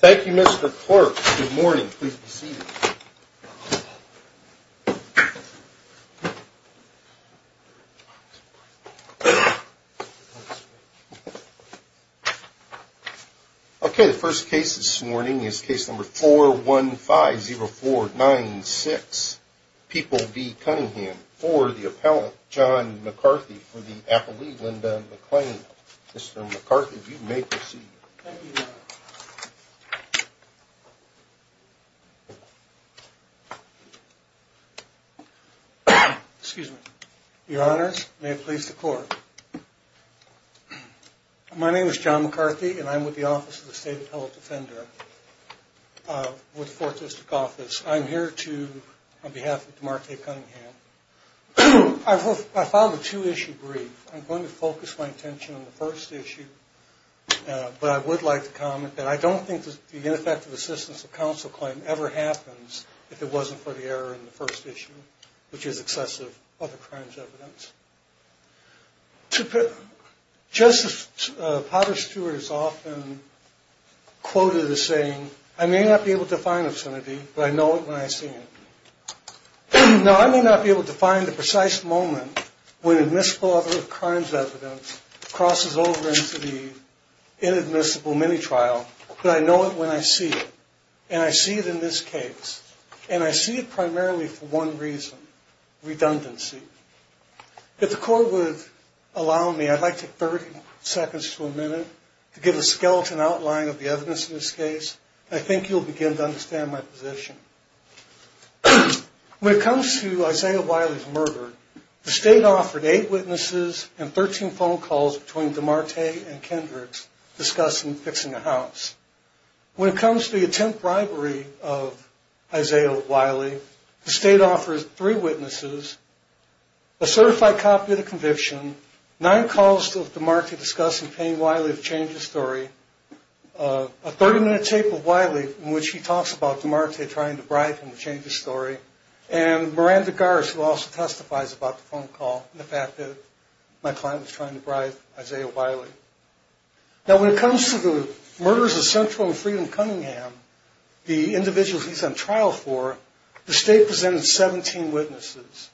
Thank you, Mr. Clerk. Good morning. Please be seated. Okay, the first case this morning is case number 4150496, People v. Cunningham for the appellant, John McCarthy, for the appellee, Linda McClain. Mr. McCarthy, you may proceed. Excuse me. Your Honors, may it please the Court. My name is John McCarthy, and I'm with the Office of the State Appellate Defender with the Fourth Justice Office. I'm here on behalf of DeMarco Cunningham. I filed a two-issue brief. I'm going to focus my attention on the first issue, but I would like to comment that I don't think the ineffective assistance of counsel claim ever happens if it wasn't for the error in the first issue, which is excessive other crimes evidence. Justice Potter Stewart is often quoted as saying, I may not be able to find obscenity, but I know it when I see it. Now, I may not be able to find the precise moment when admissible other crimes evidence crosses over into the inadmissible mini-trial, but I know it when I see it, and I see it in this case, and I see it primarily for one reason, redundancy. If the Court would allow me, I'd like to take 30 seconds to a minute to give a skeleton outline of the evidence in this case, and I think you'll begin to understand my position. When it comes to Isaiah Wiley's murder, the State offered eight witnesses and 13 phone calls between DeMarte and Kendricks discussing fixing the house. When it comes to the attempt bribery of Isaiah Wiley, the State offers three witnesses, a certified copy of the conviction, nine calls of DeMarte discussing paying Wiley to change the story, a 30-minute tape of Wiley in which he talks about DeMarte trying to bribe him to change the story, and Miranda Garsh, who also testifies about the phone call and the fact that my client was trying to bribe Isaiah Wiley. Now, when it comes to the murders of Central and Freedom Cunningham, the individuals he's on trial for, the State presented 17 witnesses.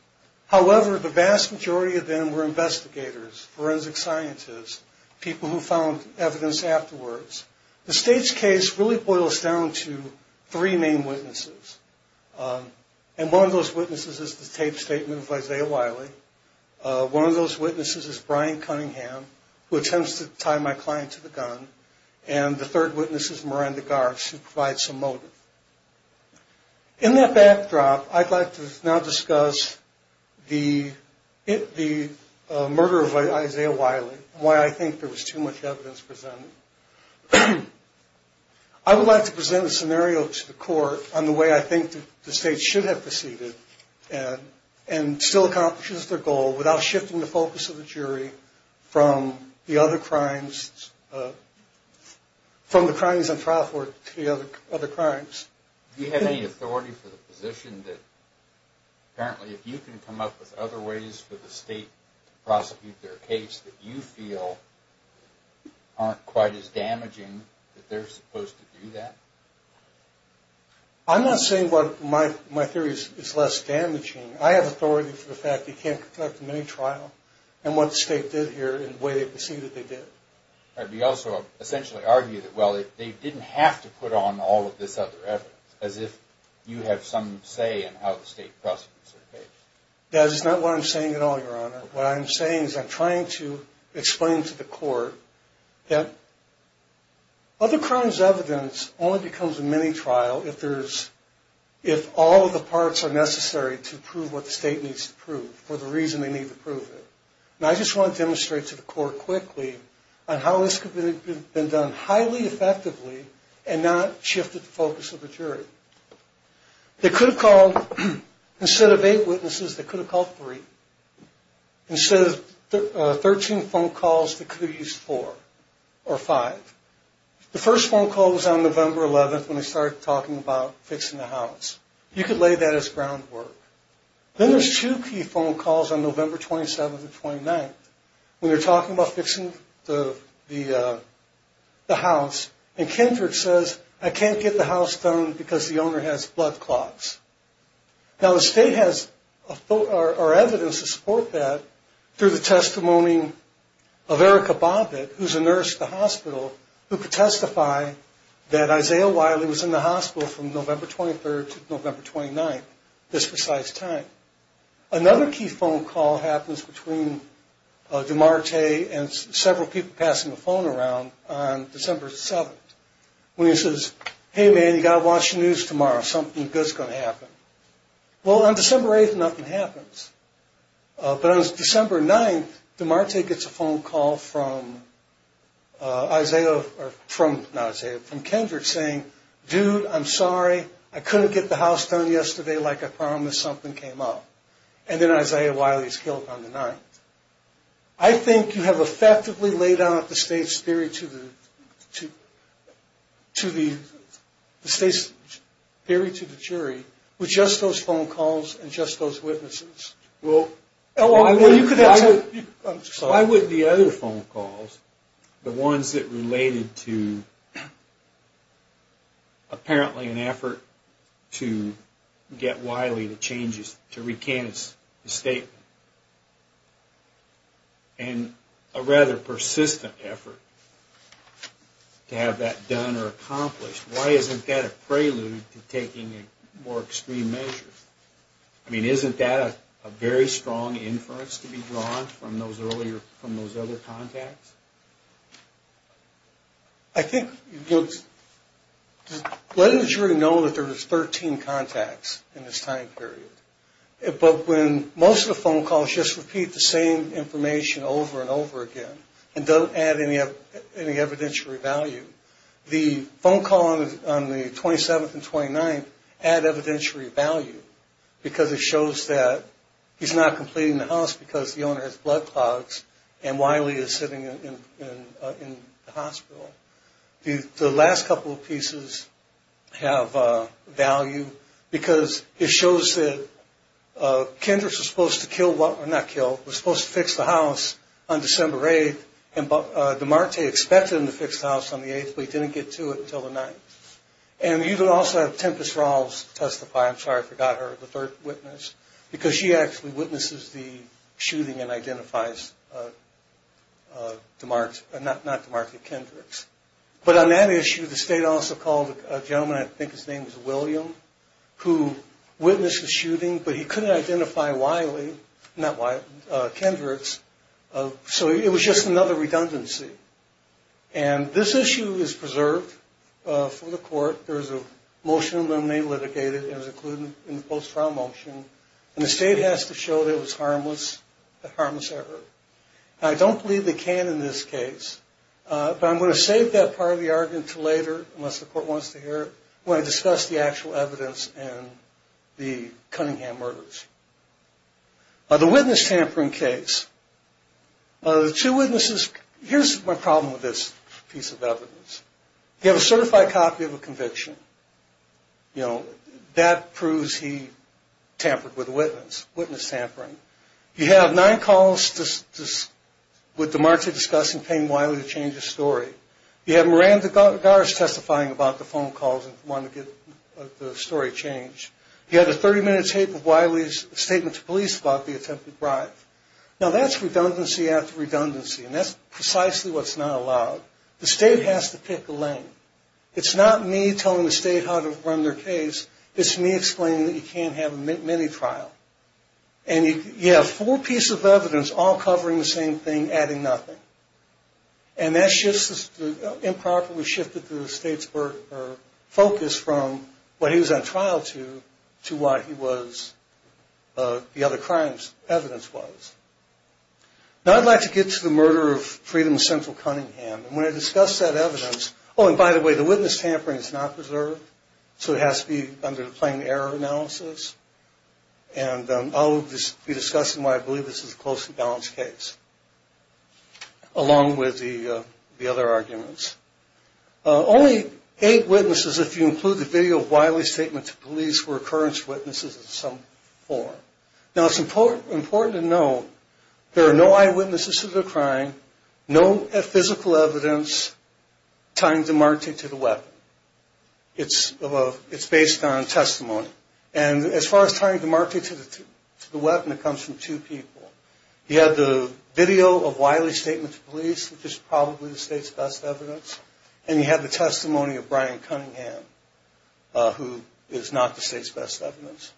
However, the vast majority of them were investigators, forensic scientists, people who found evidence afterwards. The State's case really boils down to three main witnesses, and one of those witnesses is the taped statement of Isaiah Wiley. One of those witnesses is Brian Cunningham, who attempts to tie my client to the gun, and the third witness is Miranda Garsh, who provides some motive. In that backdrop, I'd like to now discuss the murder of Isaiah Wiley and why I think there was too much evidence presented. I would like to present a scenario to the Court on the way I think the State should have proceeded and still accomplishes their goal without shifting the focus of the jury from the other crimes, from the crimes on trial for the other crimes. Do you have any authority for the position that, apparently, if you can come up with other ways for the State to prosecute their case, that you feel aren't quite as damaging that they're supposed to do that? I'm not saying my theory is less damaging. I have authority for the fact that you can't conduct a mini-trial and what the State did here in the way they proceeded they did. You also essentially argue that, well, they didn't have to put on all of this other evidence, as if you have some say in how the State prosecutes their case. That is not what I'm saying at all, Your Honor. What I'm saying is I'm trying to explain to the Court that other crimes' evidence only becomes a mini-trial if all of the parts are necessary to prove what the State needs to prove for the reason they need to prove it. And I just want to demonstrate to the Court quickly on how this could have been done highly effectively and not shifted the focus of the jury. They could have called, instead of eight witnesses, they could have called three. Instead of 13 phone calls, they could have used four or five. The first phone call was on November 11th when they started talking about fixing the house. You could lay that as groundwork. Then there's two key phone calls on November 27th and 29th when they're talking about fixing the house. And Kindred says, I can't get the house done because the owner has blood clots. Now, the State has evidence to support that through the testimony of Erica Bobbitt, who's a nurse at the hospital, who could testify that Isaiah Wiley was in the hospital from November 23rd to November 29th, this precise time. Another key phone call happens between Demarte and several people passing the phone around on December 7th when he says, hey, man, you've got to watch the news tomorrow. Something good is going to happen. Well, on December 8th, nothing happens. But on December 9th, Demarte gets a phone call from Kendrick saying, dude, I'm sorry. I couldn't get the house done yesterday like I promised. Something came up. And then Isaiah Wiley is killed on the 9th. I think you have effectively laid out the State's theory to the jury with just those phone calls and just those witnesses. Why wouldn't the other phone calls, the ones that related to apparently an effort to get Wiley to change, to recant his statement, and a rather persistent effort to have that done or accomplished, why isn't that a prelude to taking more extreme measures? I mean, isn't that a very strong inference to be drawn from those earlier, from those other contacts? I think, let the jury know that there was 13 contacts in this time period. But when most of the phone calls just repeat the same information over and over again and don't add any evidentiary value, the phone call on the 27th and 29th add evidentiary value because it shows that he's not completing the house because the owner has blood clots and Wiley is sitting in the hospital. The last couple of pieces have value because it shows that Kendrick was supposed to kill, not kill, was supposed to fix the house on December 8th and Demarte expected him to fix the house on the 8th but he didn't get to it until the 9th. And you could also have Tempest-Rawls testify, I'm sorry I forgot her, the third witness, because she actually witnesses the shooting and identifies Demarte, not Demarte, Kendrick's. But on that issue, the State also called a gentleman, I think his name was William, who witnessed the shooting but he couldn't identify Wiley, not Wiley, Kendrick's. So it was just another redundancy. And this issue is preserved for the court. There is a motion to eliminate litigated and is included in the post-trial motion. And the State has to show that it was harmless, a harmless error. I don't believe they can in this case, but I'm going to save that part of the argument until later, unless the court wants to hear it, when I discuss the actual evidence and the Cunningham murders. The witness tampering case, here's my problem with this piece of evidence. You have a certified copy of a conviction, that proves he tampered with a witness, witness tampering. You have nine calls with Demarte discussing paying Wiley to change his story. You have Miranda Garz testifying about the phone calls and wanting to get the story changed. You have a 30-minute tape of Wiley's statement to police about the attempted bribe. Now that's redundancy after redundancy, and that's precisely what's not allowed. The State has to pick a lane. It's not me telling the State how to run their case, it's me explaining that you can't have a mini-trial. And you have four pieces of evidence all covering the same thing, adding nothing. And that improperly shifted the State's focus from what he was on trial to, to what the other crime's evidence was. Now I'd like to get to the murder of Freedom Central Cunningham, and when I discuss that evidence, oh, and by the way, the witness tampering is not preserved, so it has to be under the plain error analysis. And I'll be discussing why I believe this is a closely balanced case, along with the other arguments. Only eight witnesses, if you include the video of Wiley's statement to police, were occurrence witnesses in some form. Now it's important to know there are no eyewitnesses to the crime, no physical evidence tying Demarte to the weapon. It's based on testimony. And as far as tying Demarte to the weapon, it comes from two people. He had the video of Wiley's statement to police, which is probably the State's best evidence, and he had the testimony of Brian Cunningham, who is not the State's best evidence.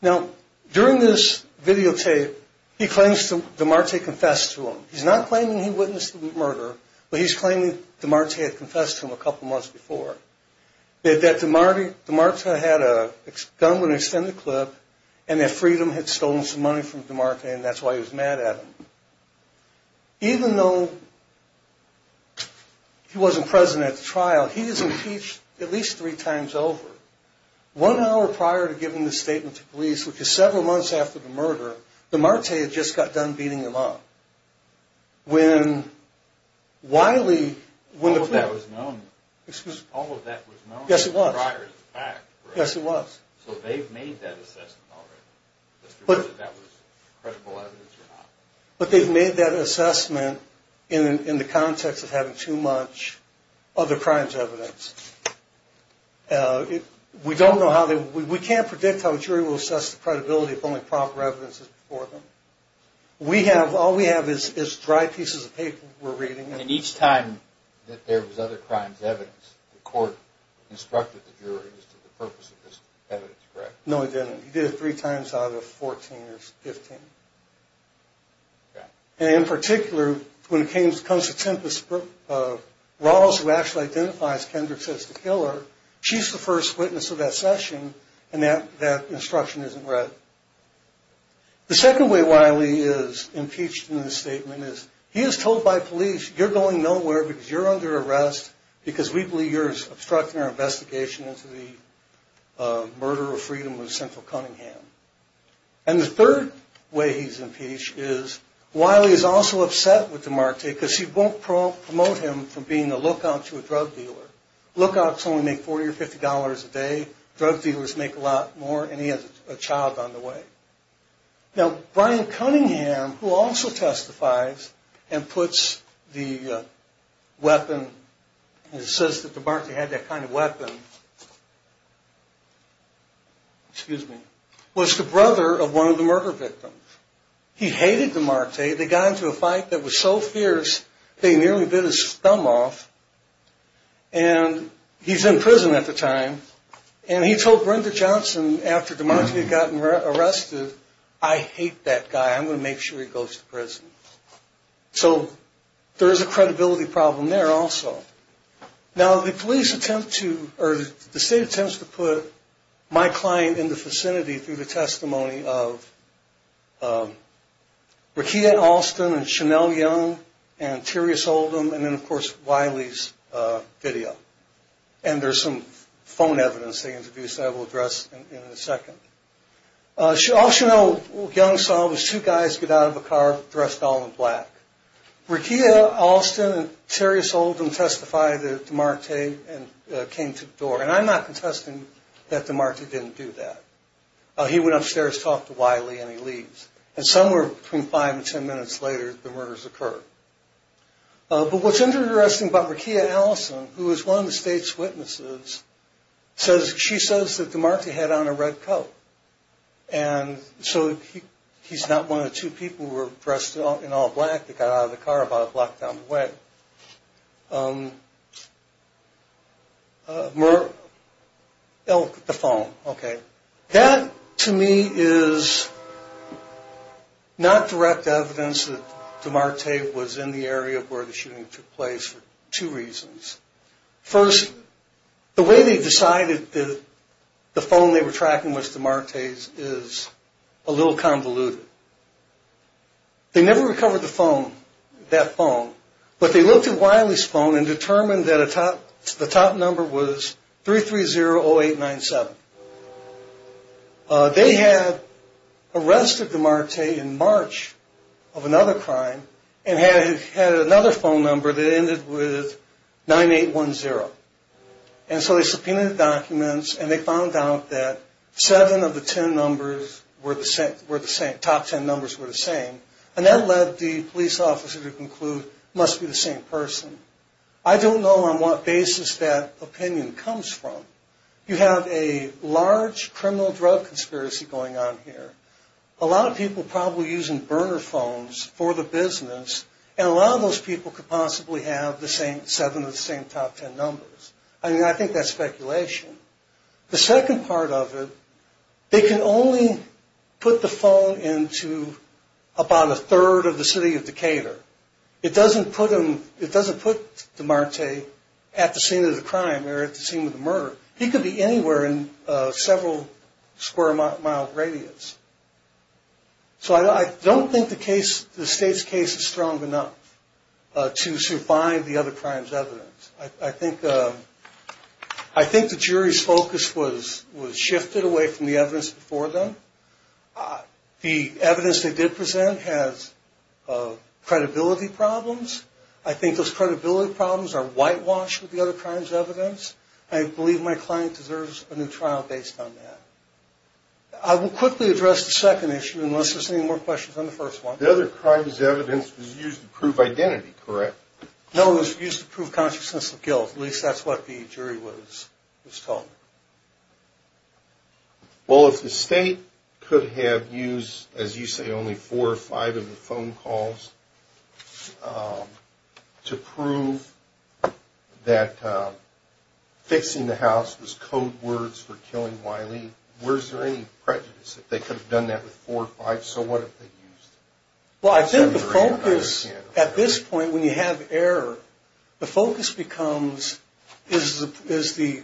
Now, during this videotape, he claims Demarte confessed to him. He's not claiming he witnessed the murder, but he's claiming Demarte had confessed to him a couple months before, that Demarte had a gun with an extended clip, and that Freedom had stolen some money from Demarte, and that's why he was mad at him. Even though he wasn't present at the trial, he was impeached at least three times over. One hour prior to giving this statement to police, which is several months after the murder, Demarte had just got done beating him up. When Wiley... All of that was known prior to the fact. Yes, it was. So they've made that assessment already, whether that was credible evidence or not. But they've made that assessment in the context of having too much other crimes evidence. We don't know how they... We can't predict how a jury will assess the credibility if only proper evidence is before them. All we have is dry pieces of paper we're reading. And each time that there was other crimes evidence, the court instructed the jury as to the purpose of this evidence, correct? No, it didn't. He did it three times out of 14 or 15. Okay. And in particular, when it comes to Tempest, Rawls, who actually identifies Kendrick as the killer, she's the first witness of that session, and that instruction isn't read. The second way Wiley is impeached in this statement is he is told by police, you're going nowhere because you're under arrest because we believe you're obstructing our investigation into the murder of Freedom of Central Cunningham. And the third way he's impeached is Wiley is also upset with DeMarte because he won't promote him from being a lookout to a drug dealer. Lookouts only make $40 or $50 a day. Drug dealers make a lot more, and he has a child on the way. Now, Brian Cunningham, who also testifies and puts the weapon, and says that DeMarte had that kind of weapon, was the brother of one of the murder victims. He hated DeMarte. They got into a fight that was so fierce they nearly bit his thumb off. And he's in prison at the time, and he told Brenda Johnson after DeMarte had gotten arrested, I hate that guy. I'm going to make sure he goes to prison. So there is a credibility problem there also. Now, the police attempt to, or the state attempts to put my client in the vicinity through the testimony of Rekia Alston and Chanel Young and Tyrius Oldham, and then, of course, Wiley's video. And there's some phone evidence they introduced that I will address in a second. All Chanel Young saw was two guys get out of a car dressed all in black. Rekia Alston and Tyrius Oldham testified that DeMarte came to the door. And I'm not contesting that DeMarte didn't do that. He went upstairs, talked to Wiley, and he leaves. And somewhere between five and ten minutes later, the murders occurred. But what's interesting about Rekia Alston, who is one of the state's witnesses, she says that DeMarte had on a red coat. And so he's not one of two people who were dressed in all black that got out of the car about a block down the way. The phone, okay. That, to me, is not direct evidence that DeMarte was in the area where the shooting took place for two reasons. First, the way they decided that the phone they were tracking was DeMarte's is a little convoluted. They never recovered the phone, that phone. But they looked at Wiley's phone and determined that the top number was 330-0897. They had arrested DeMarte in March of another crime and had another phone number that ended with 9810. And so they subpoenaed the documents, and they found out that seven of the top ten numbers were the same. And that led the police officer to conclude it must be the same person. I don't know on what basis that opinion comes from. You have a large criminal drug conspiracy going on here. A lot of people probably using burner phones for the business, and a lot of those people could possibly have seven of the same top ten numbers. I mean, I think that's speculation. The second part of it, they can only put the phone into about a third of the city of Decatur. It doesn't put DeMarte at the scene of the crime or at the scene of the murder. He could be anywhere in several square mile radius. So I don't think the state's case is strong enough to survive the other crimes' evidence. I think the jury's focus was shifted away from the evidence before them. The evidence they did present has credibility problems. I think those credibility problems are whitewashed with the other crimes' evidence. I believe my client deserves a new trial based on that. I will quickly address the second issue unless there's any more questions on the first one. The other crimes' evidence was used to prove identity, correct? No, it was used to prove consciousness of guilt. At least that's what the jury was told. Well, if the state could have used, as you say, only four or five of the phone calls to prove that fixing the house was code words for killing Wiley, was there any prejudice that they could have done that with four or five? So what if they used them? Well, I think the focus at this point when you have error, the focus becomes is the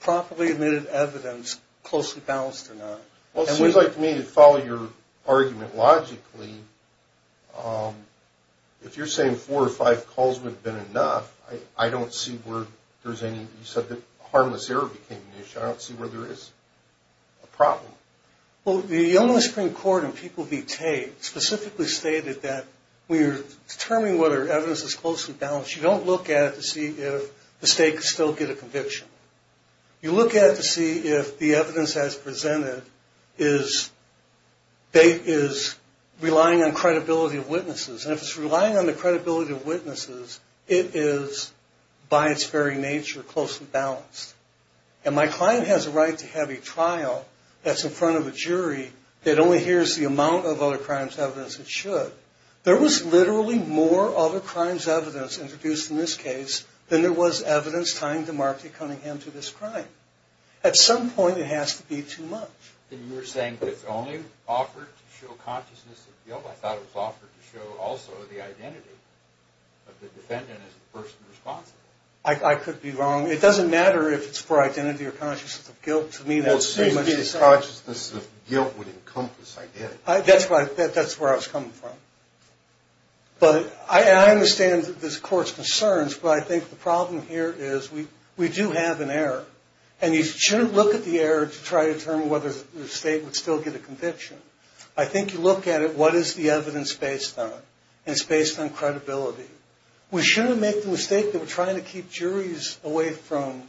properly admitted evidence closely balanced or not? Well, it seems like to me to follow your argument logically, if you're saying four or five calls would have been enough, I don't see where there's any – you said that harmless error became an issue. I don't see where there is a problem. Well, the Illinois Supreme Court and people v. Tate specifically stated that when you're determining whether evidence is closely balanced, you don't look at it to see if the state could still get a conviction. You look at it to see if the evidence as presented is relying on credibility of witnesses. And if it's relying on the credibility of witnesses, it is by its very nature closely balanced. And my client has a right to have a trial that's in front of a jury that only hears the amount of other crimes' evidence it should. There was literally more other crimes' evidence introduced in this case than there was evidence tying DeMarco Cunningham to this crime. At some point, it has to be too much. And you're saying it's only offered to show consciousness of guilt? I thought it was offered to show also the identity of the defendant as the person responsible. I could be wrong. It doesn't matter if it's for identity or consciousness of guilt. To me, that's pretty much the same. Well, it seems to me that consciousness of guilt would encompass identity. That's where I was coming from. But I understand this court's concerns, but I think the problem here is we do have an error. And you shouldn't look at the error to try to determine whether the state would still get a conviction. I think you look at it, what is the evidence based on? And it's based on credibility. We shouldn't make the mistake that we're trying to keep juries away from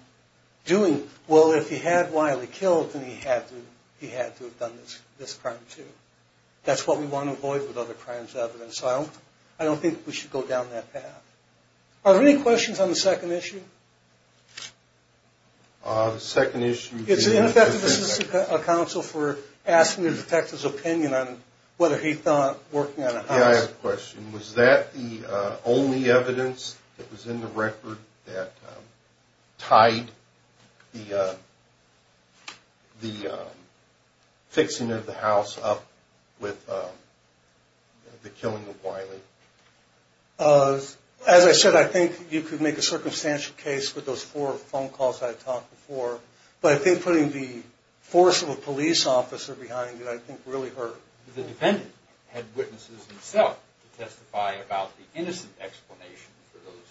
doing, well, if he had Wiley killed, then he had to have done this crime too. That's what we want to avoid with other crimes evidence. So I don't think we should go down that path. Are there any questions on the second issue? The second issue. It's ineffective. This is a counsel for asking the detective's opinion on whether he thought working on a house. Yeah, I have a question. Was that the only evidence that was in the record that tied the fixing of the house up with the killing of Wiley? As I said, I think you could make a circumstantial case with those four phone calls I talked before. But I think putting the force of a police officer behind it I think really hurt. The defendant had witnesses himself to testify about the innocent explanation for those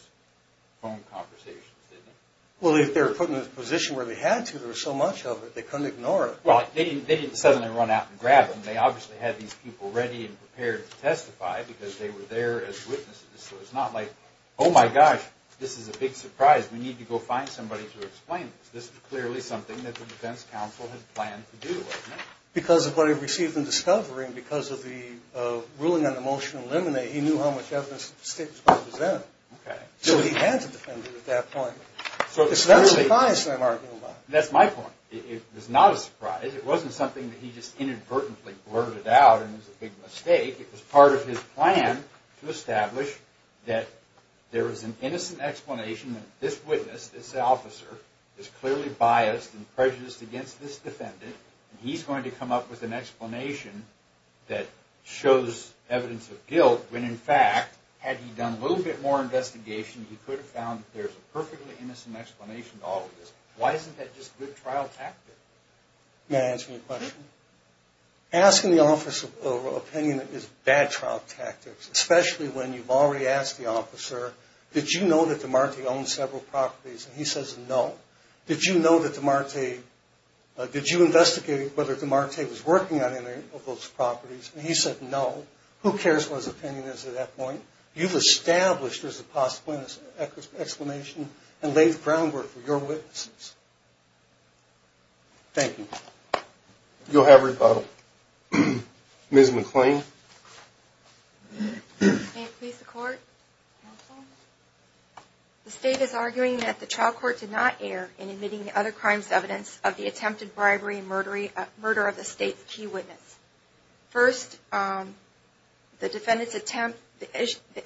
phone conversations, didn't he? Well, if they were put in a position where they had to, there was so much of it, they couldn't ignore it. Well, they didn't suddenly run out and grab him. They obviously had these people ready and prepared to testify because they were there as witnesses. So it's not like, oh, my gosh, this is a big surprise. We need to go find somebody to explain this. This is clearly something that the defense counsel had planned to do, wasn't it? Because of what he received in discovery and because of the ruling on the motion to eliminate, he knew how much evidence the state was going to present. Okay. So he had to defend it at that point. So it's not a surprise, I'm arguing about. That's my point. It was not a surprise. It wasn't something that he just inadvertently blurted out and it was a big mistake. It was part of his plan to establish that there was an innocent explanation that this witness, this officer, is clearly biased and prejudiced against this defendant. He's going to come up with an explanation that shows evidence of guilt when, in fact, had he done a little bit more investigation, he could have found that there's a perfectly innocent explanation to all of this. Why isn't that just a good trial tactic? May I answer your question? Asking the office of opinion is bad trial tactics, especially when you've already asked the officer, did you know that DeMarte owned several properties? And he says, no. Did you know that DeMarte, did you investigate whether DeMarte was working on any of those properties? And he said, no. Who cares what his opinion is at that point? You've established there's a possible explanation and laid the groundwork for your witnesses. Thank you. You'll have rebuttal. Ms. McClain. May it please the court. Counsel. The state is arguing that the trial court did not err in admitting the other crime's evidence of the attempted bribery and murder of the state's key witness. First, the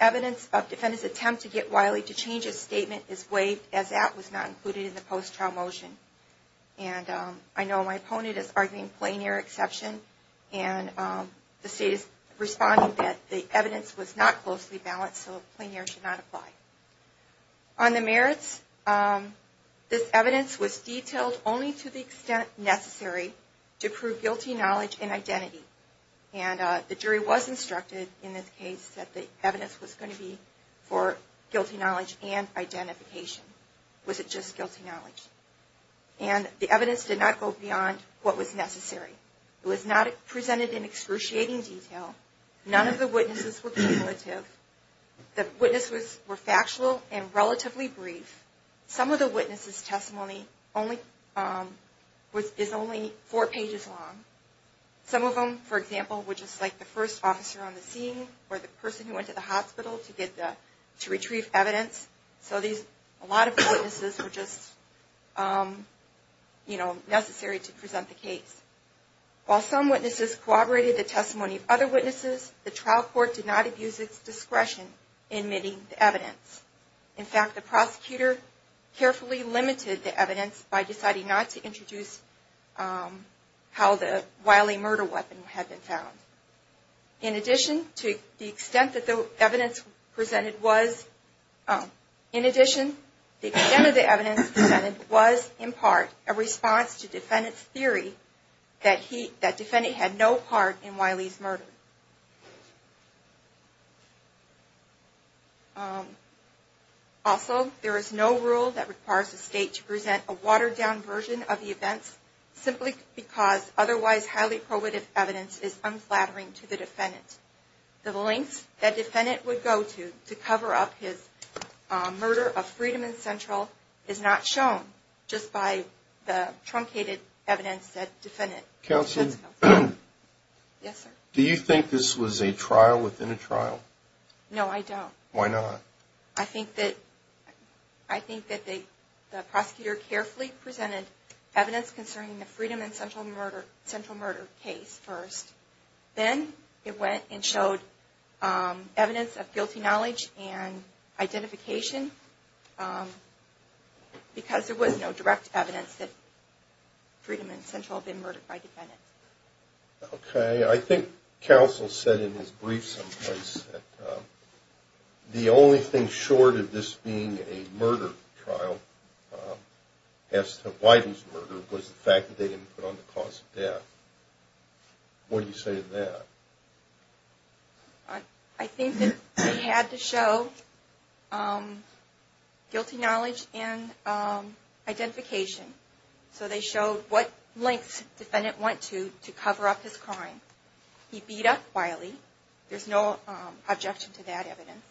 evidence of defendant's attempt to get Wiley to change his statement is waived, as that was not included in the post-trial motion. And I know my opponent is arguing plain-air exception, and the state is responding that the evidence was not closely balanced, so plain-air should not apply. On the merits, this evidence was detailed only to the extent necessary to prove guilty knowledge and identity. And the jury was instructed in this case that the evidence was going to be for guilty knowledge and identification. Was it just guilty knowledge? And the evidence did not go beyond what was necessary. It was not presented in excruciating detail. None of the witnesses were cumulative. The witnesses were factual and relatively brief. Some of the witnesses' testimony is only four pages long. Some of them, for example, were just like the first officer on the scene or the person who went to the hospital to retrieve evidence. So a lot of the witnesses were just, you know, necessary to present the case. While some witnesses corroborated the testimony of other witnesses, the trial court did not abuse its discretion in admitting the evidence. In fact, the prosecutor carefully limited the evidence by deciding not to introduce how the Wiley murder weapon had been found. In addition, to the extent that the evidence presented was, in addition, the extent of the evidence presented was, in part, a response to defendant's theory that he, that defendant had no part in Wiley's murder. Also, there is no rule that requires the State to present a watered-down version of the events simply because otherwise highly probative evidence is unflattering to the defendant. The lengths that defendant would go to to cover up his murder of Freedom and Central is not shown just by the truncated evidence that defendant presents. Counselor? Yes, sir? Do you think this was a trial within a trial? No, I don't. Why not? I think that the prosecutor carefully presented evidence concerning the Freedom and Central murder case first. Then it went and showed evidence of guilty knowledge and identification because there was no direct evidence that Freedom and Central had been murdered by defendants. Okay. I think counsel said in his brief someplace that the only thing short of this being a murder trial as to Wiley's murder was the fact that they didn't put on the cause of death. What do you say to that? I think that they had to show guilty knowledge and identification. So they showed what lengths defendant went to to cover up his crime. He beat up Wiley. There's no objection to that evidence.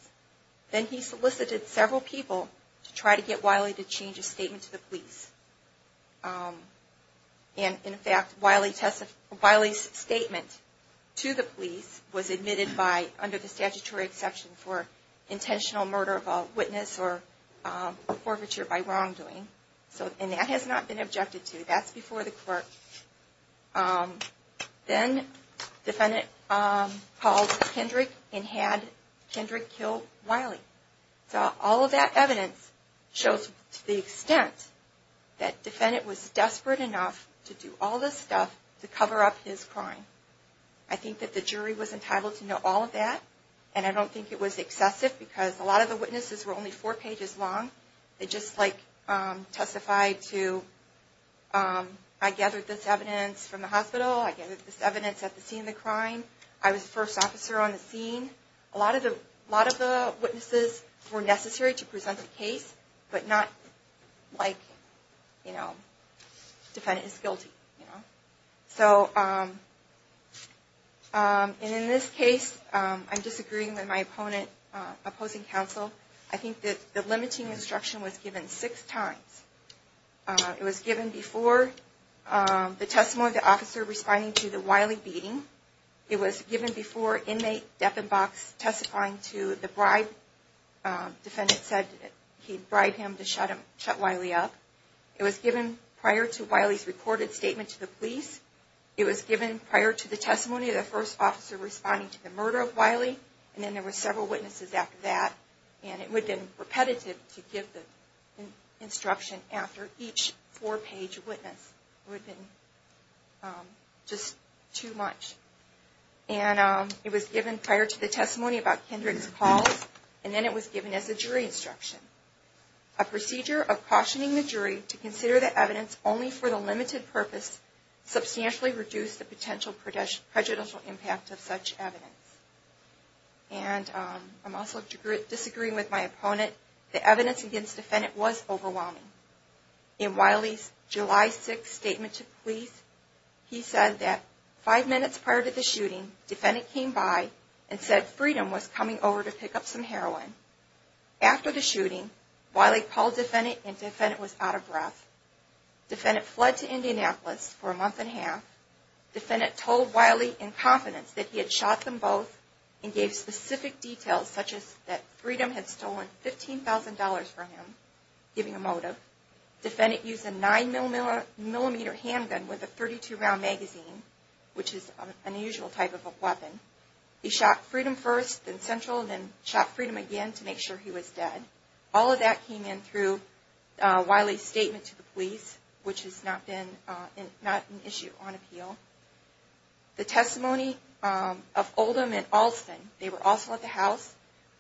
Then he solicited several people to try to get Wiley to change his statement to the police. In fact, Wiley's statement to the police was admitted by, under the statutory exception for, intentional murder of a witness or forfeiture by wrongdoing. And that has not been objected to. That's before the court. Then defendant called Kendrick and had Kendrick kill Wiley. So all of that evidence shows to the extent that defendant was desperate enough to do all this stuff to cover up his crime. I think that the jury was entitled to know all of that. And I don't think it was excessive because a lot of the witnesses were only four pages long. They just testified to, I gathered this evidence from the hospital. I gathered this evidence at the scene of the crime. I was the first officer on the scene. A lot of the witnesses were necessary to present the case, but not like, you know, defendant is guilty. So in this case, I'm disagreeing with my opponent opposing counsel. I think that the limiting instruction was given six times. It was given before the testimony of the officer responding to the Wiley beating. It was given before inmate Deppenbach testifying to the bribe. Defendant said he'd bribe him to shut Wiley up. It was given prior to Wiley's recorded statement to the police. It was given prior to the testimony of the first officer responding to the murder of Wiley. And then there were several witnesses after that. And it would have been repetitive to give the instruction after each four-page witness. It would have been just too much. And it was given prior to the testimony about Kindred's calls. And then it was given as a jury instruction. A procedure of cautioning the jury to consider the evidence only for the limited purpose substantially reduced the potential prejudicial impact of such evidence. And I'm also disagreeing with my opponent. The evidence against defendant was overwhelming. In Wiley's July 6th statement to police, he said that five minutes prior to the shooting, defendant came by and said Freedom was coming over to pick up some heroin. After the shooting, Wiley called defendant and defendant was out of breath. Defendant fled to Indianapolis for a month and a half. Defendant told Wiley in confidence that he had shot them both and gave specific details such as that Freedom had stolen $15,000 from him, giving a motive. Defendant used a 9mm handgun with a 32-round magazine, which is an unusual type of a weapon. He shot Freedom first, then Central, and then shot Freedom again to make sure he was dead. All of that came in through Wiley's statement to the police, which has not been an issue on appeal. The testimony of Oldham and Alston, they were also at the house,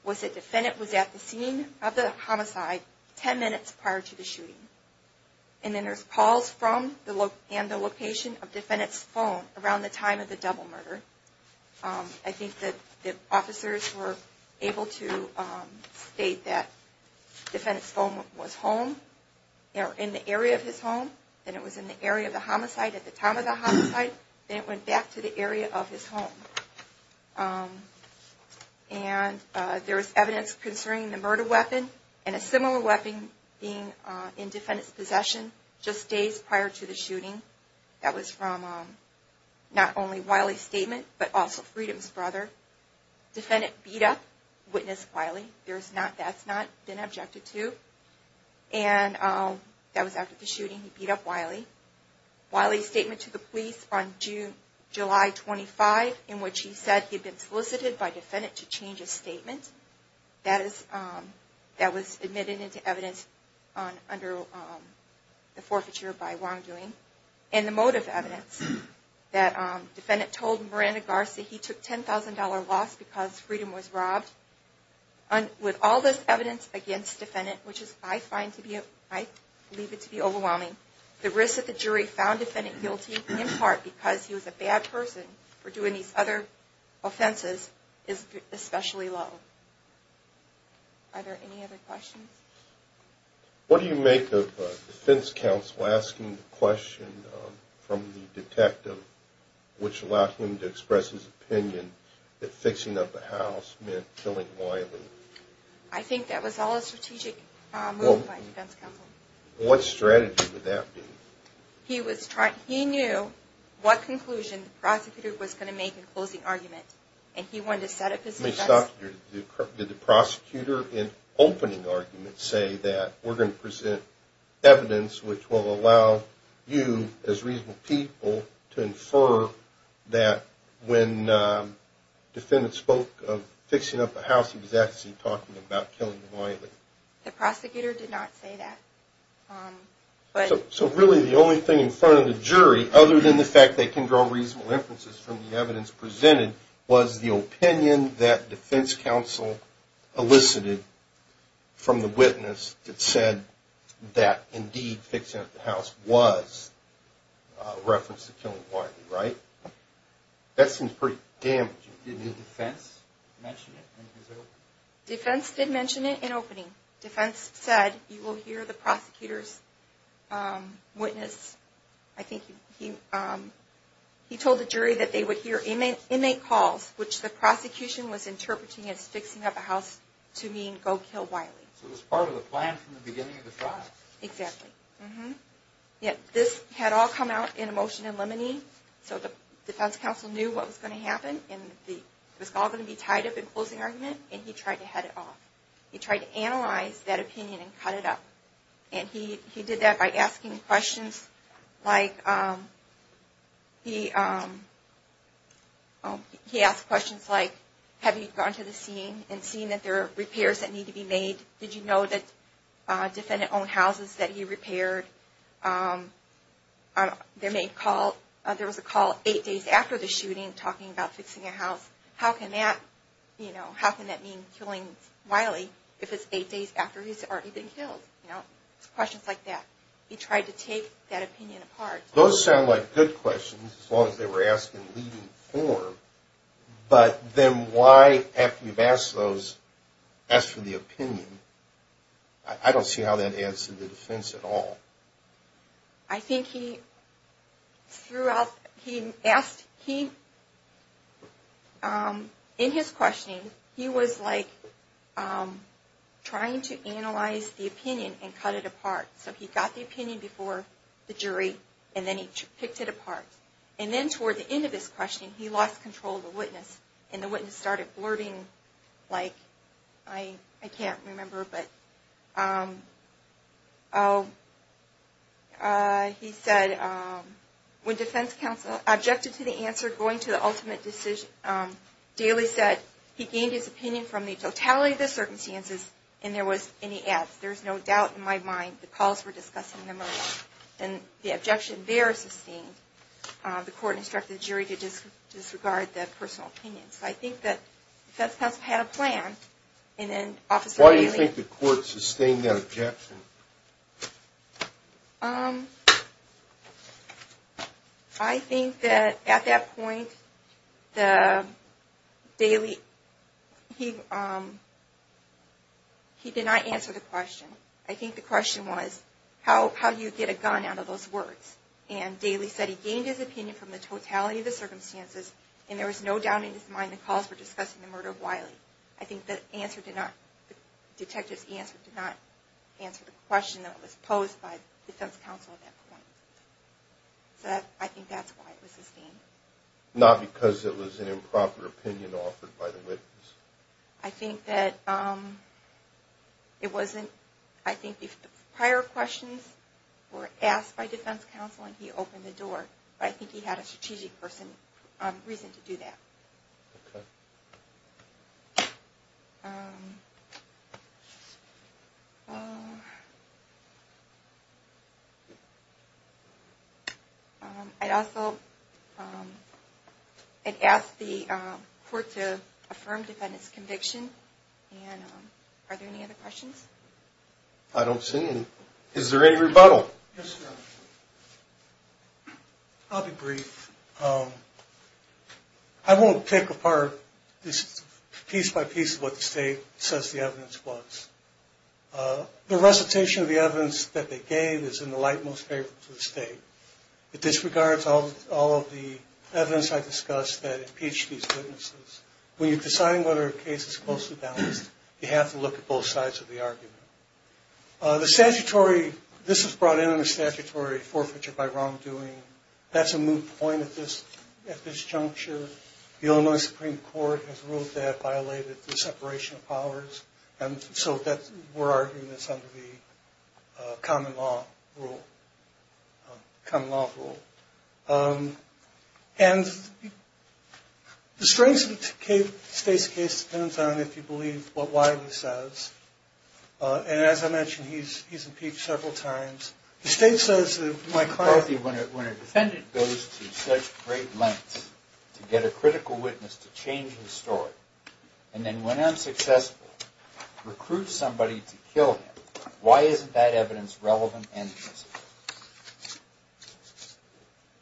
was that defendant was at the scene of the homicide 10 minutes prior to the shooting. And then there's calls from and the location of defendant's phone around the time of the double murder. I think that the officers were able to state that defendant's phone was home, in the area of his home, then it was in the area of the homicide at the time of the homicide, then it went back to the area of his home. And there was evidence concerning the murder weapon and a similar weapon being in defendant's possession just days prior to the shooting. That was from not only Wiley's statement, but also Freedom's brother. Defendant beat up witness Wiley. That's not been objected to. And that was after the shooting, he beat up Wiley. Wiley's statement to the police on July 25, in which he said he'd been solicited by defendant to change his statement. That was admitted into evidence under the forfeiture by wrongdoing. And the motive evidence that defendant told Miranda Garst that he took $10,000 loss because Freedom was robbed. With all this evidence against defendant, which I find to be, I believe it to be overwhelming, the risk that the jury found defendant guilty, in part because he was a bad person for doing these other offenses, is especially low. Are there any other questions? What do you make of defense counsel asking the question from the detective, which allowed him to express his opinion that fixing up the house meant killing Wiley? I think that was all a strategic move by defense counsel. What strategy would that be? He knew what conclusion the prosecutor was going to make in closing argument. And he wanted to set up his defense... Did the prosecutor in opening argument say that we're going to present evidence which will allow you as reasonable people to infer that when defendant spoke of fixing up the house, he was actually talking about killing Wiley? The prosecutor did not say that. So really the only thing in front of the jury, other than the fact that they can draw reasonable inferences from the evidence presented, was the opinion that defense counsel elicited from the witness that said that indeed fixing up the house was a reference to killing Wiley, right? That seems pretty damaging. Did the defense mention it in his opening? Defense did mention it in opening. Defense said, you will hear the prosecutor's witness. I think he told the jury that they would hear inmate calls, which the prosecution was interpreting as fixing up the house to mean go kill Wiley. So it was part of the plan from the beginning of the trial. Exactly. This had all come out in a motion in limine. So the defense counsel knew what was going to happen. It was all going to be tied up in closing argument, and he tried to head it off. He tried to analyze that opinion and cut it up. And he did that by asking questions like, he asked questions like, have you gone to the scene and seen that there are repairs that need to be made? Did you know that defendant owned houses that he repaired? There was a call eight days after the shooting talking about fixing a house. How can that mean killing Wiley if it's eight days after he's already been killed? Questions like that. He tried to take that opinion apart. Those sound like good questions as long as they were asked in leading form. But then why, after you've asked those, ask for the opinion? I don't see how that adds to the defense at all. I think he threw out, he asked, he, in his questioning, he was like trying to analyze the opinion and cut it apart. So he got the opinion before the jury, and then he picked it apart. And then toward the end of his questioning, he lost control of the witness, and the witness started blurting like, I can't remember, but he said, when defense counsel objected to the answer going to the ultimate decision, Daly said he gained his opinion from the totality of the circumstances, and there was any ads. There's no doubt in my mind the calls were discussing the murder. And the objection there is sustained. The court instructed the jury to disregard that personal opinion. So I think that defense counsel had a plan. Why do you think the court sustained that objection? I think that at that point, Daly, he did not answer the question. I think the question was, how do you get a gun out of those words? And Daly said he gained his opinion from the totality of the circumstances, and there was no doubt in his mind the calls were discussing the murder of Wiley. I think the detective's answer did not answer the question that was posed by defense counsel at that point. So I think that's why it was sustained. Not because it was an improper opinion offered by the witness? I think that it wasn't. I think the prior questions were asked by defense counsel, and he opened the door. But I think he had a strategic reason to do that. Okay. I'd also ask the court to affirm defendant's conviction. And are there any other questions? I don't see any. Is there any rebuttal? Yes, sir. I'll be brief. I won't pick apart piece by piece what the state says the evidence was. The recitation of the evidence that they gave is in the light most favorable to the state. It disregards all of the evidence I discussed that impeached these witnesses. When you're deciding whether a case is closely balanced, you have to look at both sides of the argument. The statutory, this was brought in under statutory forfeiture by wrongdoing. That's a moot point at this juncture. The Illinois Supreme Court has ruled that violated the separation of powers. And so we're arguing that's under the common law rule. Common law rule. And the strength of the state's case depends on, if you believe what Wiley says. And as I mentioned, he's impeached several times. The state says that my client. When a defendant goes to such great lengths to get a critical witness to change his story, and then when unsuccessful, recruits somebody to kill him, why isn't that evidence relevant and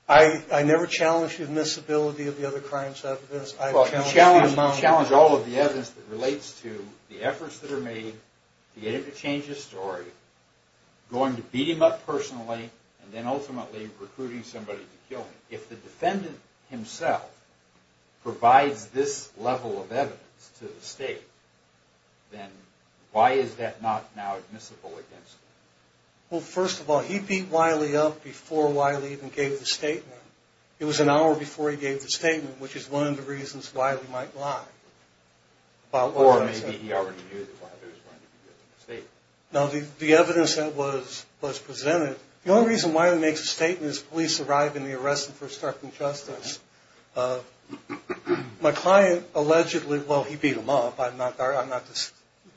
admissible? I never challenge the admissibility of the other crimes after this. I challenge the amount of evidence. Well, you challenge all of the evidence that relates to the efforts that are made to get him to change his story, going to beat him up personally, and then ultimately recruiting somebody to kill him. If the defendant himself provides this level of evidence to the state, then why is that not now admissible against him? Well, first of all, he beat Wiley up before Wiley even gave the statement. It was an hour before he gave the statement, which is one of the reasons Wiley might lie. Or maybe he already knew that Wiley was going to give the statement. No, the evidence that was presented, the only reason Wiley makes a statement is police arrive and they arrest him for obstructing justice. My client allegedly, well, he beat him up. I'm not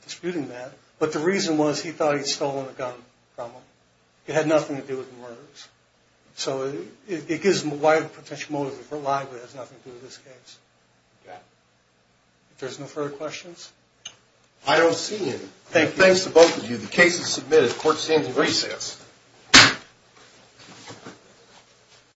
disputing that. But the reason was he thought he'd stolen a gun from him. It had nothing to do with the murders. So it gives Wiley a potential motive to lie, but it has nothing to do with this case. If there's no further questions. I don't see any. Thanks to both of you. The case is submitted. Court is in recess.